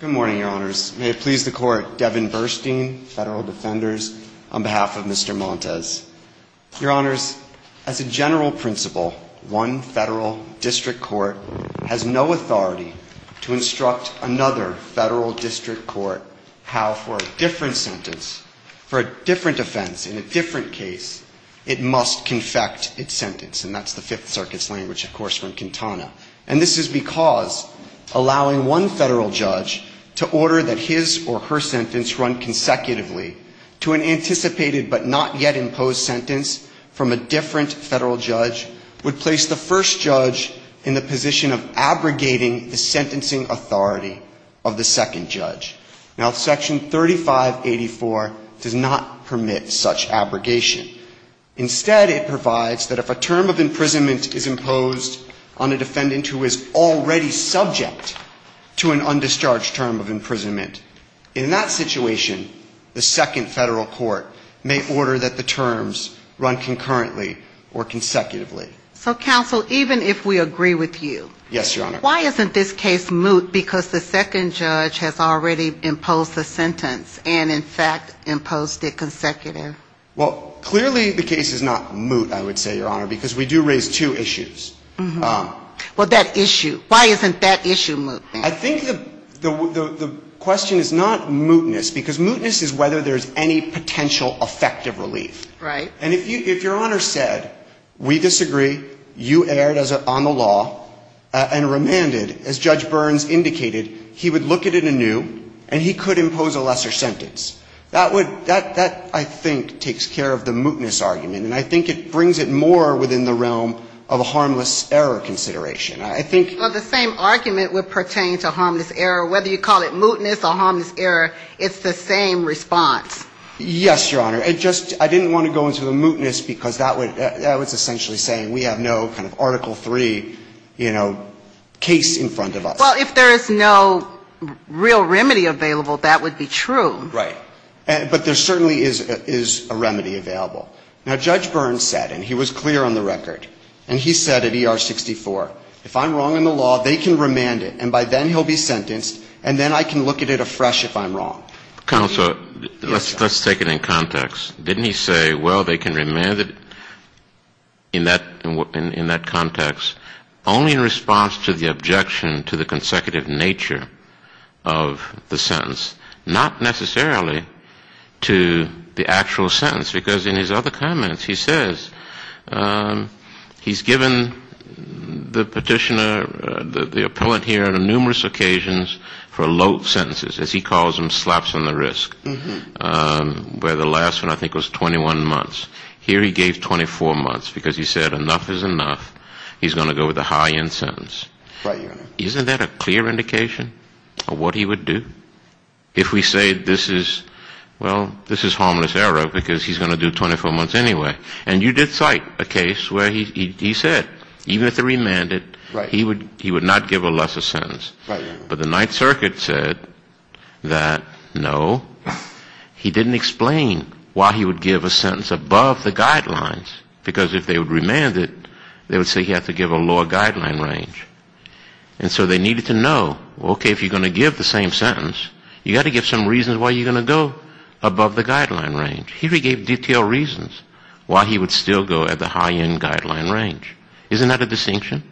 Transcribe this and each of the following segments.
Good morning, Your Honors. May it please the Court, Devin Burstein, Federal Defenders, on behalf of Mr. Montes. Your Honors, as a general principle, one federal district court has no authority to instruct another federal district court how for a different sentence, for a different offense, in a different case, it must confect its sentence, and that's the Fifth Circuit's language, of course, from Quintana. And this is because allowing one federal judge to order that his or her sentence run consecutively to an anticipated but not yet imposed sentence from a different federal judge would place the first judge in the position of abrogating the sentencing authority of the second judge. Now, Section 3584 does not permit such abrogation. Instead, it provides that if a term of imprisonment is imposed on a defendant who is already subject to an undischarged term of imprisonment, in that situation, the second federal court may order that the terms run concurrently or consecutively. So, counsel, even if we agree with you, why isn't this case moot because the second judge has already imposed a sentence and, in fact, imposed it consecutive? Well, clearly the case is not moot, I would say, Your Honor, because we do raise two issues. Well, that issue. Why isn't that issue moot? I think the question is not mootness, because mootness is whether there's any potential effective relief. Right. And if Your Honor said, we disagree, you erred on the law and remanded, as Judge Burns indicated, he would look at it anew and he could impose a lesser sentence. That would – that, I think, takes care of the mootness argument. And I think it brings it more within the realm of a harmless error consideration. I think – Well, the same argument would pertain to harmless error, whether you call it mootness or harmless error, it's the same response. Yes, Your Honor. It just – I didn't want to go into the mootness because that would – that was essentially saying we have no kind of Article III, you know, case in front of us. Well, if there is no real remedy available, that would be true. Right. But there certainly is a remedy available. Now, Judge Burns said, and he was clear on the record, and he said at ER-64, if I'm wrong in the law, they can remand it and by then he'll be sentenced and then I can look at it afresh if I'm wrong. Counsel, let's take it in context. Didn't he say, well, they can remand it in that context only in response to the objection to the consecutive nature of the sentence, not necessarily to the actual sentence? Because in his other comments he says he's given the petitioner, the appellant here, on numerous occasions for low sentences, as he calls them, slaps on the wrist, where the last one I think was 21 months. Here he gave 24 months because he said enough is enough. He's going to go with a high-end sentence. Right, Your Honor. Isn't that a clear indication of what he would do? If we say this is, well, this is harmless error because he's going to do 24 months anyway. And you did cite a case where he said even if they remanded, he would not give a lesser sentence. Right, Your Honor. But the Ninth Circuit said that, no, he didn't explain why he would give a sentence above the guidelines. Because if they would remand it, they would say he had to give a lower guideline range. And so they needed to know, okay, if you're going to give the same sentence, you've got to give some reasons why you're going to go above the guideline range. Here he gave detailed reasons why he would still go at the high-end guideline range. Isn't that a distinction?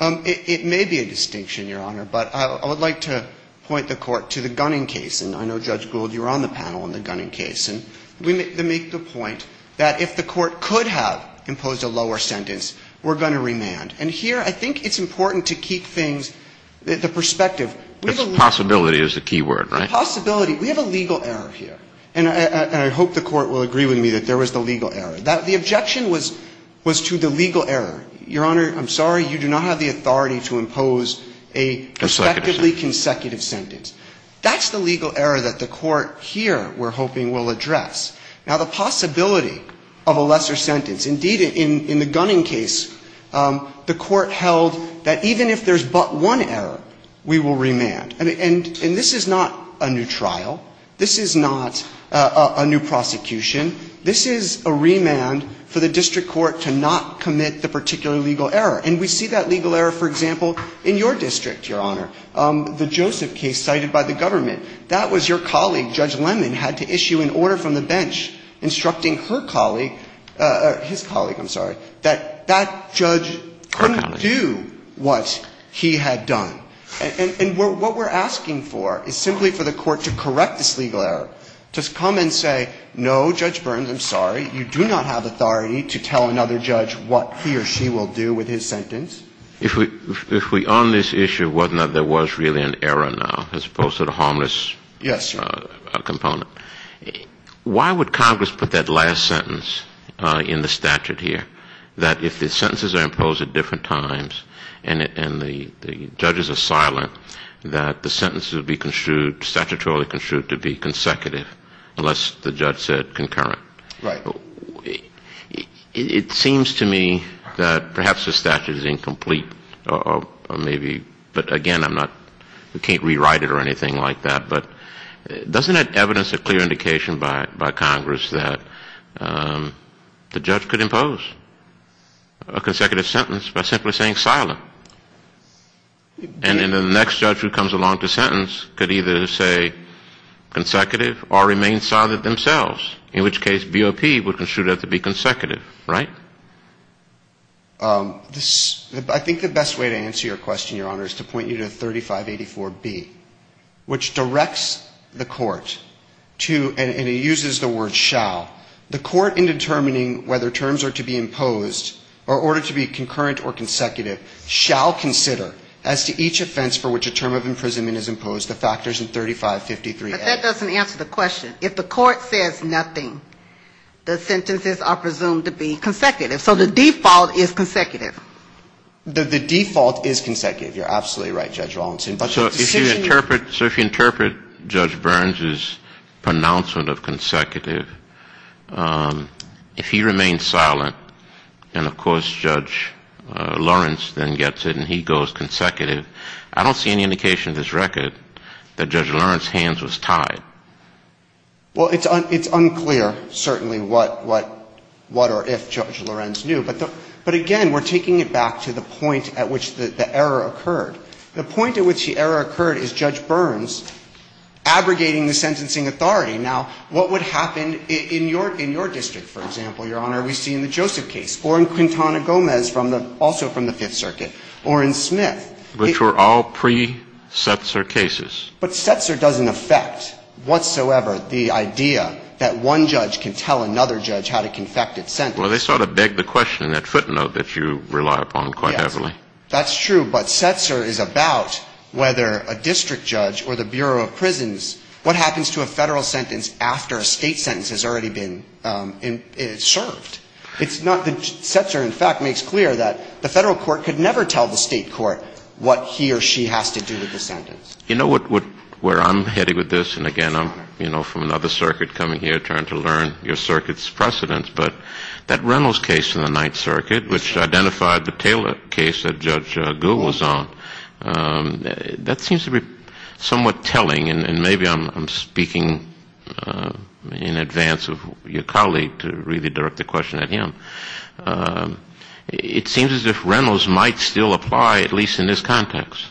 It may be a distinction, Your Honor. But I would like to point the Court to the Gunning case. And I know, Judge Gould, you were on the panel on the Gunning case. And we make the point that if the Court could have imposed a lower sentence, we're going to remand. And here I think it's important to keep things, the perspective. It's a possibility is the key word, right? The possibility. We have a legal error here. And I hope the Court will agree with me that there was the legal error. The objection was to the legal error. Your Honor, I'm sorry. You do not have the authority to impose a respectively consecutive sentence. That's the legal error that the Court here, we're hoping, will address. Now, the possibility of a lesser sentence. Indeed, in the Gunning case, the Court held that even if there's but one error, we will remand. And this is not a new trial. This is not a new prosecution. This is a remand for the district court to not commit the particular legal error. And we see that legal error, for example, in your district, Your Honor, the Joseph case cited by the government. That was your colleague, Judge Lemon, had to issue an order from the bench instructing her colleague, his colleague, I'm sorry, that that judge couldn't do what he had done. And what we're asking for is simply for the Court to correct this legal error, to come and say, no, Judge Burns, I'm sorry. You do not have authority to tell another judge what he or she will do with his sentence. If we on this issue, wasn't that there was really an error now, as opposed to the harmless component? Yes, Your Honor. Why would Congress put that last sentence in the statute here, that if the sentences are imposed at different times and the judges are silent, that the sentences would be construed, statutorily construed, to be consecutive unless the judge said concurrent? Right. It seems to me that perhaps the statute is incomplete, or maybe, but again, I'm not, we can't rewrite it or anything like that. But doesn't that evidence a clear indication by Congress that the judge could impose a consecutive sentence by simply saying silent? And then the next judge who comes along to sentence could either say consecutive or remain silent themselves, in which case BOP would be construed as to be consecutive, right? I think the best way to answer your question, Your Honor, is to point you to 3584B, which directs the Court to, and it uses the word shall, the Court in determining whether terms are to be imposed or ordered to be concurrent or consecutive shall consider as to each offense for which a term of imprisonment is imposed the factors in 3553A. But that doesn't answer the question. If the Court says nothing, the sentences are presumed to be consecutive. So the default is consecutive. The default is consecutive. You're absolutely right, Judge Rawlinson. So if you interpret Judge Burns's pronouncement of consecutive, if he remains silent and, of course, Judge Lawrence then gets it and he goes consecutive, I don't see any indication in this record that Judge Lawrence's hands was tied. Well, it's unclear, certainly, what or if Judge Lawrence knew. But again, we're taking it back to the point at which the error occurred. The point at which the error occurred is Judge Burns abrogating the sentencing authority. Now, what would happen in your district, for example, Your Honor, we see in the Joseph case or in Quintana Gomez, also from the Fifth Circuit, or in Smith? Which were all pre-Setzer cases. But Setzer doesn't affect whatsoever the idea that one judge can tell another judge how to confect its sentence. Well, they sort of beg the question in that footnote that you rely upon quite heavily. That's true. But Setzer is about whether a district judge or the Bureau of Prisons, what happens to a Federal sentence after a State sentence has already been served? It's not the – Setzer, in fact, makes clear that the Federal court could never tell the State court what he or she has to do with the sentence. You know where I'm heading with this? And again, I'm, you know, from another circuit coming here trying to learn your circuit's precedents. But that Reynolds case in the Ninth Circuit, which identified the Taylor case that Judge Gould was on, that seems to be somewhat telling. And maybe I'm speaking in advance of your colleague to really direct the question at him. It seems as if Reynolds might still apply, at least in this context.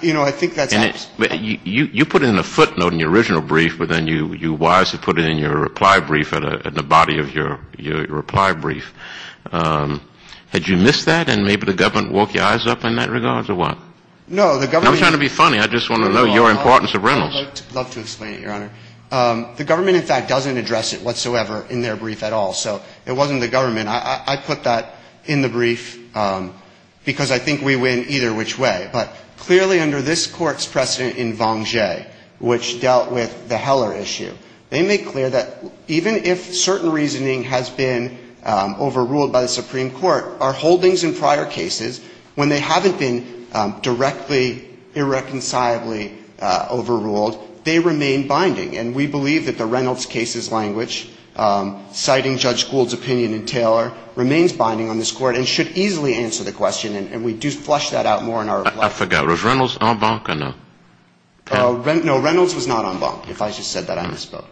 You know, I think that's – You put in a footnote in your original brief, but then you wisely put it in your reply brief, in the body of your reply brief. Had you missed that, and maybe the government woke your eyes up in that regard, or what? No, the government – I'm trying to be funny. I just want to know your importance of Reynolds. I'd love to explain it, Your Honor. The government, in fact, doesn't address it whatsoever in their brief at all. So it wasn't the government. I put that in the brief because I think we win either which way. But clearly under this Court's precedent in Vanger, which dealt with the Heller issue, they make clear that even if certain reasoning has been overruled by the Supreme Court, our holdings in prior cases, when they haven't been directly, irreconcilably overruled, they remain binding. And we believe that the Reynolds case's language, citing Judge Gould's opinion in Taylor, remains binding on this Court and should easily answer the question. And we do flush that out more in our reply brief. I forgot. Was Reynolds en banc or no? No, Reynolds was not en banc. If I just said that, I misspoke.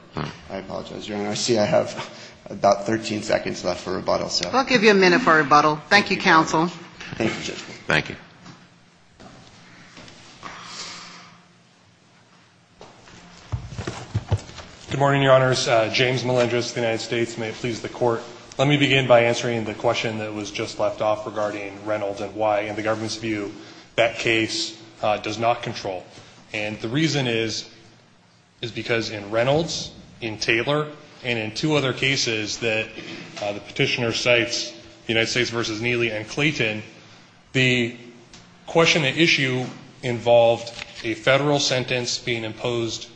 I apologize, Your Honor. I see I have about 13 seconds left for rebuttal. I'll give you a minute for rebuttal. Thank you, counsel. Thank you, Justice. Thank you. Good morning, Your Honors. James Melendrez of the United States. May it please the Court. Let me begin by answering the question that was just left off regarding Reynolds and why, in the government's view, that case does not control. And the reason is, is because in Reynolds, in Taylor, and in two other cases that the Petitioner cites, United States v. Neely and Clayton, the question at issue involved a Federal sentence being imposed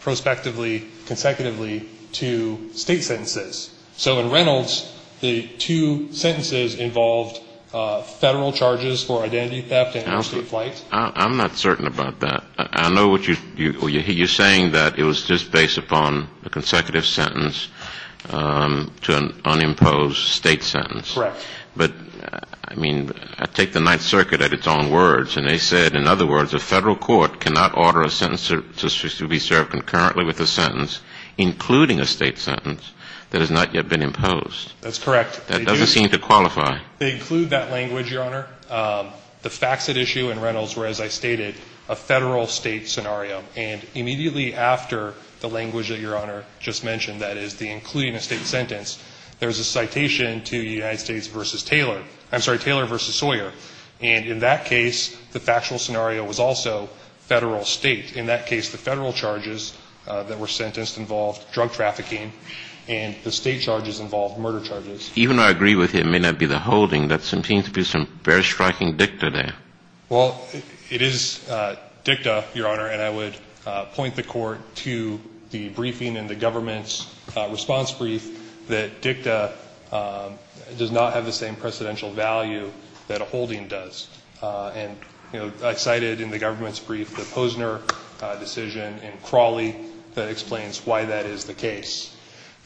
prospectively, consecutively, to State sentences. So in Reynolds, the two sentences involved Federal charges for identity theft and interstate flight. I'm not certain about that. I know what you're saying, that it was just based upon a consecutive sentence to an unimposed State sentence. Correct. But, I mean, take the Ninth Circuit at its own words, and they said, in other words, a Federal court cannot order a sentence to be served concurrently with a sentence, including a State sentence, that has not yet been imposed. That's correct. That doesn't seem to qualify. They include that language, Your Honor. The facts at issue in Reynolds were, as I stated, a Federal-State scenario. And immediately after the language that Your Honor just mentioned, that is, the including a State sentence, there's a citation to United States v. Taylor. I'm sorry, Taylor v. Sawyer. And in that case, the factual scenario was also Federal-State. In that case, the Federal charges that were sentenced involved drug trafficking and the State charges involved murder charges. Even though I agree with you it may not be the holding, there seems to be some very striking dicta there. Well, it is dicta, Your Honor, and I would point the Court to the briefing in the government's response brief that dicta does not have the same precedential value that a holding does. And I cited in the government's brief the Posner decision in Crawley that explains why that is the case.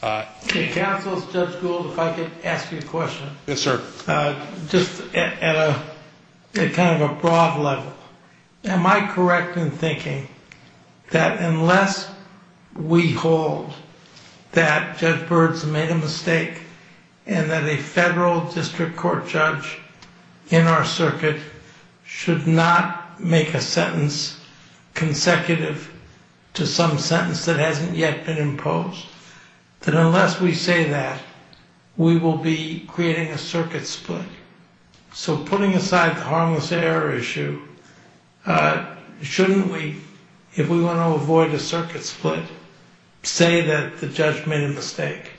Counsel, Judge Gould, if I could ask you a question. Yes, sir. Just at kind of a broad level, am I correct in thinking that unless we hold that Judge Byrd's made a mistake and that a Federal district court judge in our circuit should not make a sentence consecutive to some sentence that hasn't yet been imposed, that unless we say that, we will be creating a circuit split? So putting aside the harmless error issue, shouldn't we, if we want to avoid a circuit split, say that the judge made a mistake?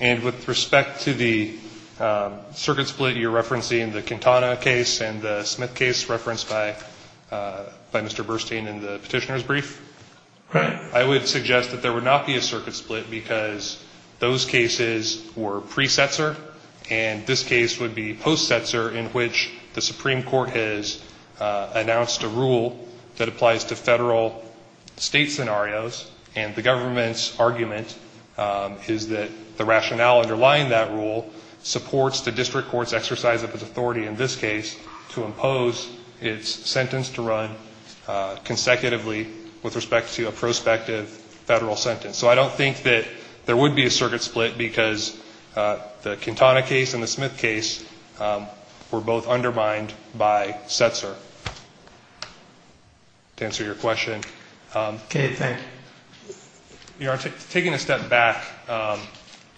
And with respect to the circuit split you're referencing in the Quintana case and the Smith case referenced by Mr. Burstein in the petitioner's brief, I would suggest that there would not be a circuit split because those cases were pre-setzer and this case would be post-setzer in which the Supreme Court has announced a rule that applies to Federal state scenarios and the government's argument is that the rationale underlying that rule supports the district court's exercise of its authority in this case to impose its sentence to run consecutively with respect to a prospective Federal sentence. So I don't think that there would be a circuit split because the Quintana case and the Smith case were both undermined by setzer. To answer your question. Okay. Thank you. You are taking a step back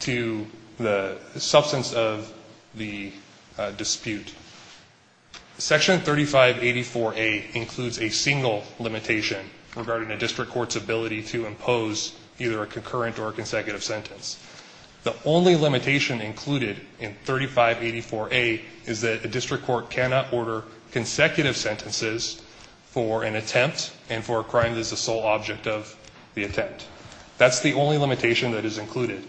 to the substance of the dispute. Section 3584A includes a single limitation regarding a district court's ability to impose either a concurrent or consecutive sentence. The only limitation included in 3584A is that a district court cannot order consecutive sentences for an attempt and for a crime that is the sole object of the statute. That's the only limitation that is included.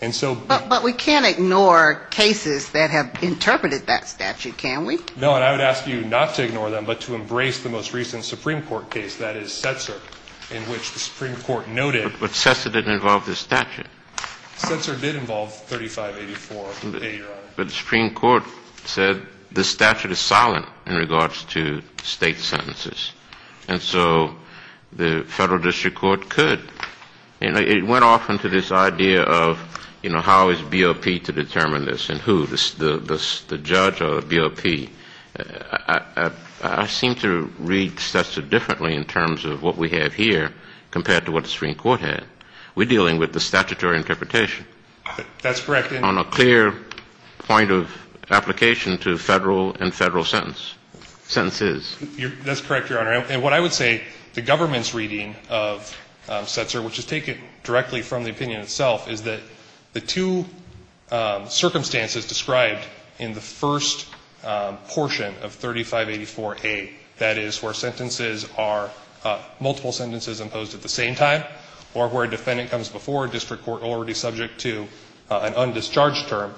But we can't ignore cases that have interpreted that statute, can we? No, and I would ask you not to ignore them but to embrace the most recent Supreme Court case, that is setzer, in which the Supreme Court noted. But setzer didn't involve the statute. Setzer did involve 3584A, Your Honor. But the Supreme Court said the statute is silent in regards to state sentences. And so the federal district court could. And it went off into this idea of, you know, how is BOP to determine this and who, the judge or the BOP. I seem to read setzer differently in terms of what we have here compared to what the Supreme Court had. We're dealing with the statutory interpretation. That's correct. On a clear point of application to federal and federal sentences. That's correct, Your Honor. And what I would say, the government's reading of setzer, which is taken directly from the opinion itself, is that the two circumstances described in the first portion of 3584A, that is, where sentences are multiple sentences imposed at the same time or where a defendant comes before a district court already subject to an undischarged term,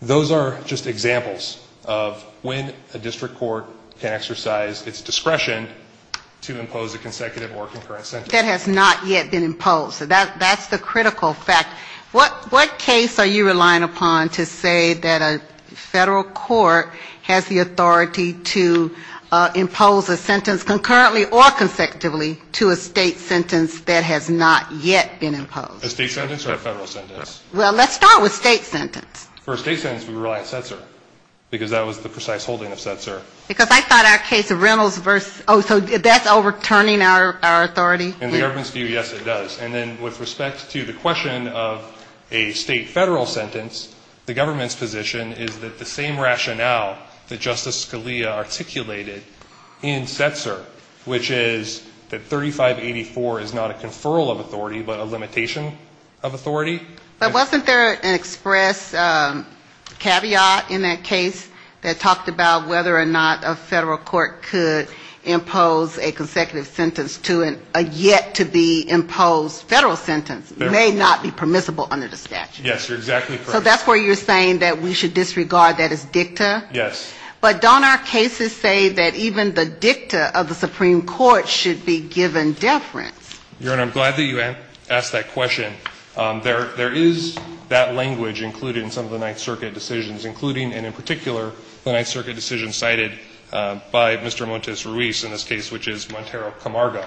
those are just examples of when a district court is able to exercise its discretion to impose a consecutive or concurrent sentence. That has not yet been imposed. That's the critical fact. What case are you relying upon to say that a federal court has the authority to impose a sentence concurrently or consecutively to a state sentence that has not yet been imposed? A state sentence or a federal sentence? Well, let's start with state sentence. For a state sentence, we rely on setzer. Because that was the precise holding of setzer. Because I thought our case of Reynolds versus oh, so that's overturning our authority? In the government's view, yes, it does. And then with respect to the question of a state federal sentence, the government's position is that the same rationale that Justice Scalia articulated in setzer, which is that 3584 is not a conferral of authority, but a limitation of authority. But wasn't there an express caveat in that case that talked about whether or not a federal court could impose a consecutive sentence to a yet-to-be-imposed federal sentence may not be permissible under the statute? Yes, you're exactly correct. So that's where you're saying that we should disregard that as dicta? Yes. But don't our cases say that even the dicta of the Supreme Court should be given deference? Your Honor, I'm glad that you asked that question. There is that language included in some of the Ninth Circuit decisions, including and in particular the Ninth Circuit decision cited by Mr. Montes Ruiz in this case, which is Montero Camargo.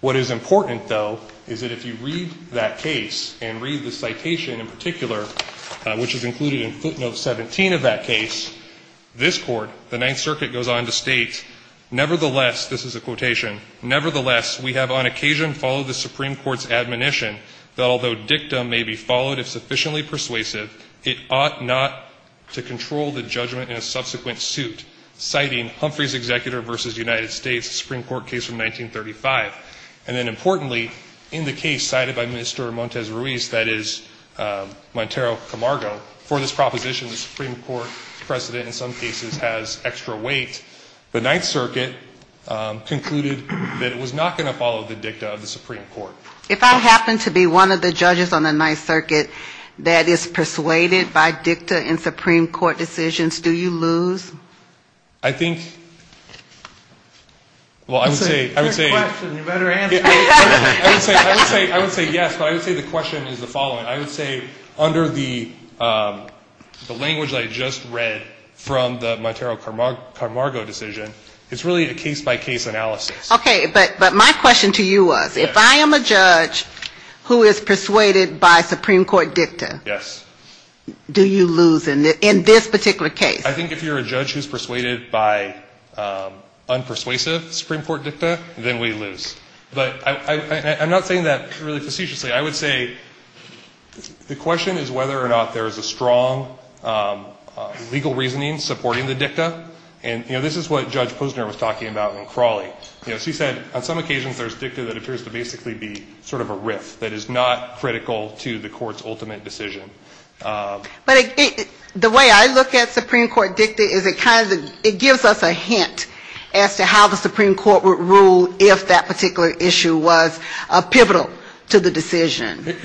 What is important, though, is that if you read that case and read the citation in particular, which is included in footnote 17 of that case, this Court, the Ninth Circuit, goes on to state, nevertheless, this is a quotation, nevertheless, we have on occasion followed the Supreme Court's admonition that although dicta may be followed if sufficiently persuasive, it ought not to control the judgment in a subsequent suit, citing Humphrey's Executor v. United States, Supreme Court case from 1935. And then importantly, in the case cited by Mr. Montes Ruiz, that is, Montero Camargo, for this proposition, the Supreme Court precedent in some cases has extra weight. The Ninth Circuit concluded that it was not going to follow the dicta of the Supreme Court. If I happen to be one of the judges on the Ninth Circuit that is persuaded by dicta in Supreme Court decisions, do you lose? I think, well, I would say, I would say yes, but I would say the question is the following. I would say under the language that I just read from the Montero Camargo case, it's really a case-by-case analysis. Okay. But my question to you was, if I am a judge who is persuaded by Supreme Court dicta, do you lose in this particular case? I think if you're a judge who's persuaded by unpersuasive Supreme Court dicta, then we lose. But I'm not saying that really facetiously. I would say the question is whether or not there is a strong legal reasoning supporting the dicta. And, you know, this is what Judge Posner was talking about in Crawley. You know, she said, on some occasions there's dicta that appears to basically be sort of a riff that is not critical to the court's ultimate decision. But the way I look at Supreme Court dicta is it kind of, it gives us a hint as to how the Supreme Court would rule if that particular issue was pivotal to the decision.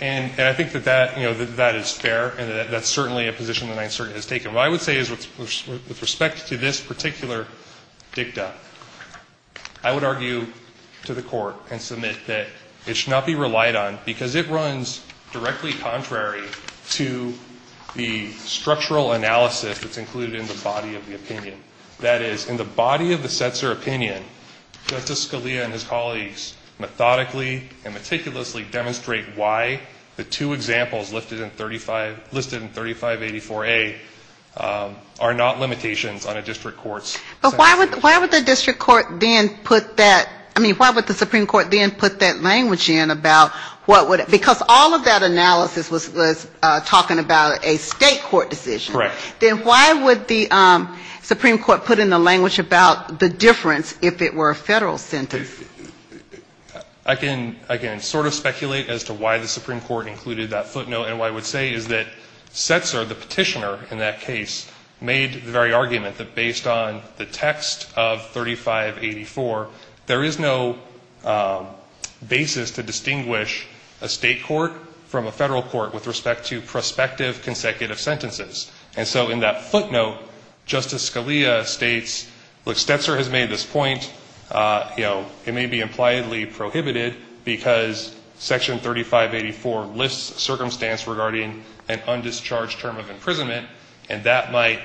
And I think that that, you know, that is fair, and that's certainly a position the Ninth Circuit has taken. What I would say is with respect to this particular dicta, I would argue to the court and submit that it should not be relied on because it runs directly contrary to the structural analysis that's included in the body of the opinion. That is, in the body of the Setzer opinion, Justice Scalia and his colleagues methodically and meticulously demonstrate why the two examples listed in 35, listed in 3584A are not limitations on a district court's sentence. But why would the district court then put that, I mean, why would the Supreme Court then put that language in about what would, because all of that analysis was talking about a state court decision. Correct. Then why would the Supreme Court put in the language about the difference if it were a federal sentence? I can, again, sort of speculate as to why the Supreme Court included that footnote. And what I would say is that Setzer, the petitioner in that case, made the very argument that based on the text of 3584, there is no basis to distinguish a state court from a federal court with respect to prospective consecutive sentences. And so in that footnote, Justice Scalia states, look, Setzer has made this point, you know, it may be impliedly prohibited because Section 3584 lists circumstance regarding an undischarged term of imprisonment, and that might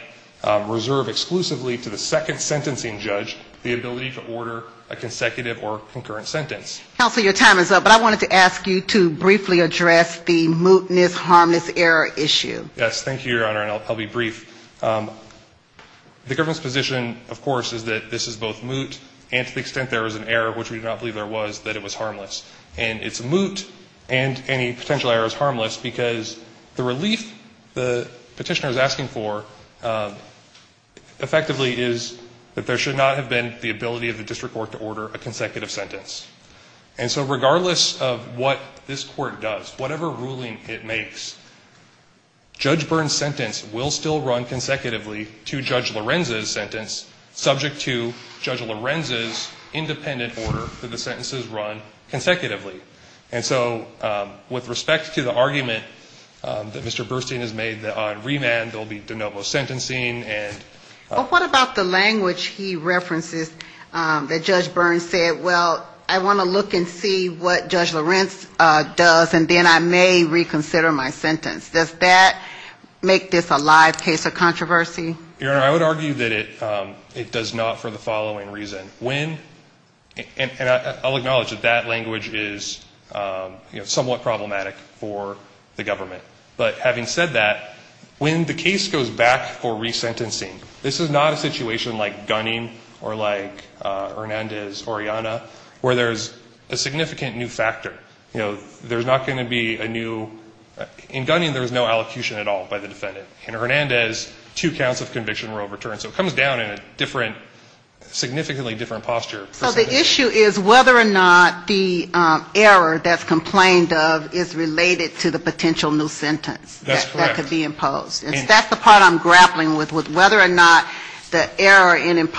reserve exclusively to the second sentencing judge the ability to order a consecutive or concurrent sentence. Counsel, your time is up, but I wanted to ask you to briefly address the mootness, harmless error issue. Yes, thank you, Your Honor, and I'll be brief. The government's position, of course, is that this is both moot and to the extent there was an error, which we do not believe there was, that it was harmless. And it's moot and any potential error is harmless because the relief the petitioner is asking for effectively is that there should not have been the ability of the district court to order a consecutive sentence. And so regardless of what this Court does, whatever ruling it makes, Judge Byrne's sentence will still run consecutively to Judge Lorenza's sentence, subject to Judge Lorenza's independent order that the sentences run consecutively. And so with respect to the argument that Mr. Burstein has made on remand, there will be de novo sentencing and ---- But what about the language he references that Judge Byrne said, well, I want to look and see what Judge Lorenza does, and then I may reconsider my sentence. Does that make this a live case of controversy? Your Honor, I would argue that it does not for the following reason. When, and I'll acknowledge that that language is, you know, somewhat problematic for the government. But having said that, when the case goes back for resentencing, this is not a situation like Gunning or like Hernandez, Orellana, where there's a significant new factor. You know, there's not going to be a new, in Gunning there was no allocution at all by the defendant. In Hernandez, two counts of conviction were overturned. So it comes down in a different, significantly different posture. So the issue is whether or not the error that's complained of is related to the potential new sentence that could be imposed. That's correct. And that's the part I'm grappling with, with whether or not the error in,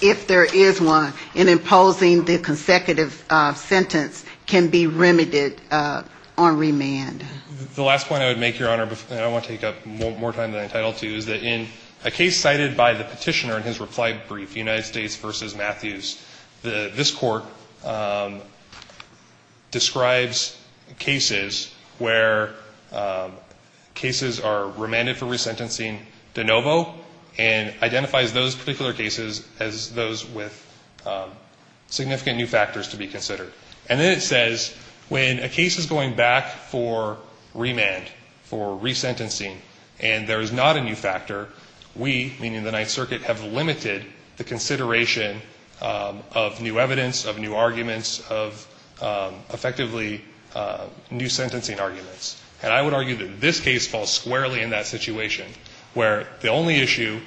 if there is one, in imposing the consecutive sentence can be remedied on remand. The last point I would make, Your Honor, and I want to take up more time than I'm entitled to, is that in a case cited by the Petitioner in his reply brief, United States, this Court describes cases where cases are remanded for resentencing de novo and identifies those particular cases as those with significant new factors to be considered. And then it says when a case is going back for remand, for resentencing, and there is not a new factor, we, meaning the Ninth Circuit, have limited the consideration of new evidence, of new arguments, of effectively new sentencing arguments. And I would argue that this case falls squarely in that situation, where the only issue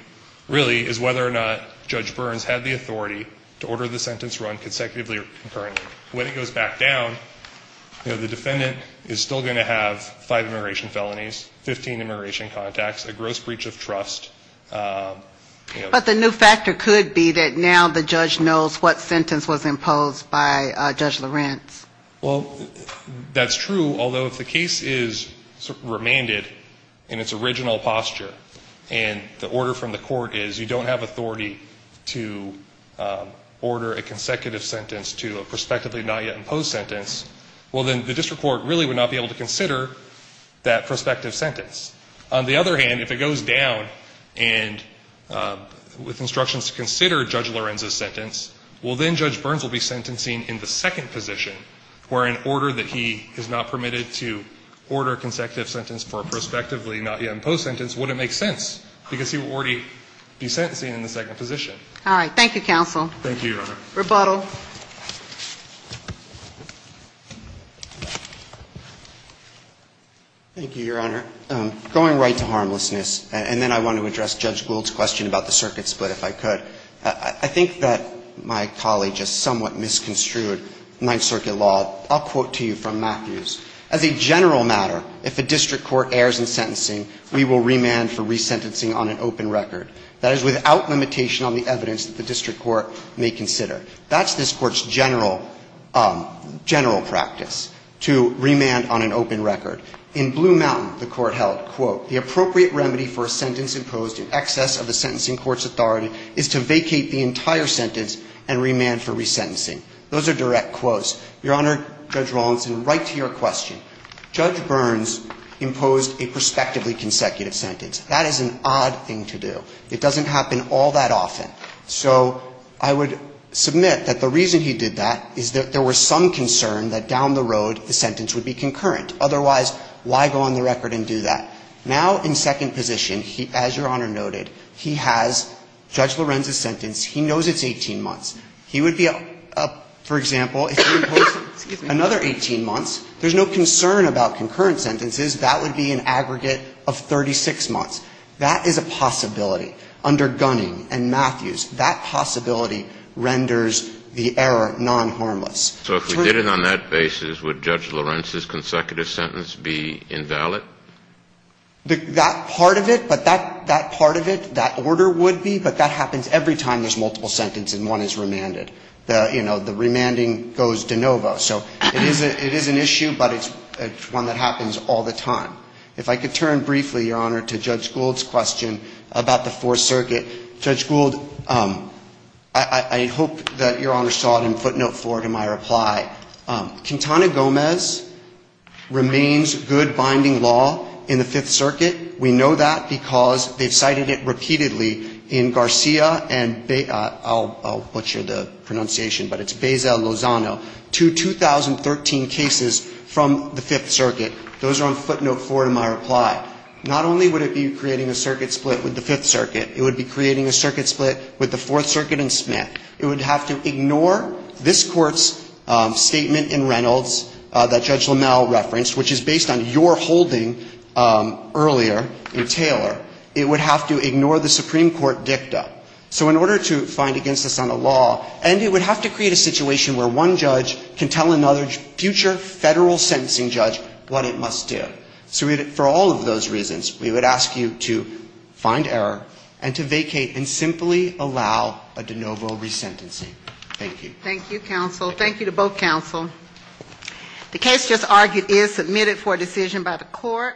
really is whether or not Judge Burns had the authority to order the sentence run consecutively or concurrently. When it goes back down, you know, the defendant is still going to have five immigration felonies, 15 immigration contacts, a gross breach of trust. But the new factor could be that now the judge knows what sentence was imposed by Judge Lorenz. Well, that's true, although if the case is remanded in its original posture, and the order from the court is you don't have authority to order a consecutive sentence to a prospectively not yet imposed sentence, well, then the district court really would not be able to consider that prospective sentence. On the other hand, if it goes down and with instructions to consider Judge Lorenz's sentence, well, then Judge Burns will be sentencing in the second position, where an order that he is not permitted to order a consecutive sentence for a prospectively not yet imposed sentence wouldn't make sense, because he would already be sentencing in the second position. All right. Thank you, counsel. Thank you, Your Honor. Rebuttal. Thank you, Your Honor. Going right to harmlessness, and then I want to address Judge Gould's question about the circuit split, if I could. I think that my colleague just somewhat misconstrued Ninth Circuit law. I'll quote to you from Matthews. As a general matter, if a district court errs in sentencing, we will remand for resentencing on an open record. That is without limitation on the evidence that the district court may consider. That's this Court's general practice, to remand on an open record. In Blue Mountain, the Court held, quote, the appropriate remedy for a sentence imposed in excess of the sentencing court's authority is to vacate the entire sentence and remand for resentencing. Those are direct quotes. Your Honor, Judge Rawlinson, right to your question. Judge Burns imposed a prospectively consecutive sentence. That is an odd thing to do. It doesn't happen all that often. So I would submit that the reason he did that is that there was some concern that the sentence would be concurrent. Otherwise, why go on the record and do that? Now, in second position, as Your Honor noted, he has Judge Lorenz's sentence. He knows it's 18 months. He would be, for example, if he imposed another 18 months, there's no concern about concurrent sentences. That would be an aggregate of 36 months. That is a possibility. Under Gunning and Matthews, that possibility renders the error non-harmless. So if we did it on that basis, would Judge Lorenz's consecutive sentence be invalid? That part of it, but that part of it, that order would be. But that happens every time there's multiple sentences and one is remanded. You know, the remanding goes de novo. So it is an issue, but it's one that happens all the time. If I could turn briefly, Your Honor, to Judge Gould's question about the Fourth Circuit. Judge Gould, I hope that Your Honor saw it in footnote four to my reply. Quintana Gomez remains good binding law in the Fifth Circuit. We know that because they've cited it repeatedly in Garcia and I'll butcher the pronunciation, but it's Beza Lozano, two 2013 cases from the Fifth Circuit. Those are on footnote four to my reply. Not only would it be creating a circuit split with the Fifth Circuit, it would be creating a circuit split with the Fourth Circuit and Smith. It would have to ignore this Court's statement in Reynolds that Judge LaMalle referenced, which is based on your holding earlier in Taylor. It would have to ignore the Supreme Court dicta. So in order to find against us on the law, and it would have to create a situation where one judge can tell another future Federal sentencing judge what it must do. So for all of those reasons, we would ask you to find error and to vacate and simply allow a de novo resentencing. Thank you. Thank you, counsel. Thank you to both counsel. The case just argued is submitted for decision by the Court.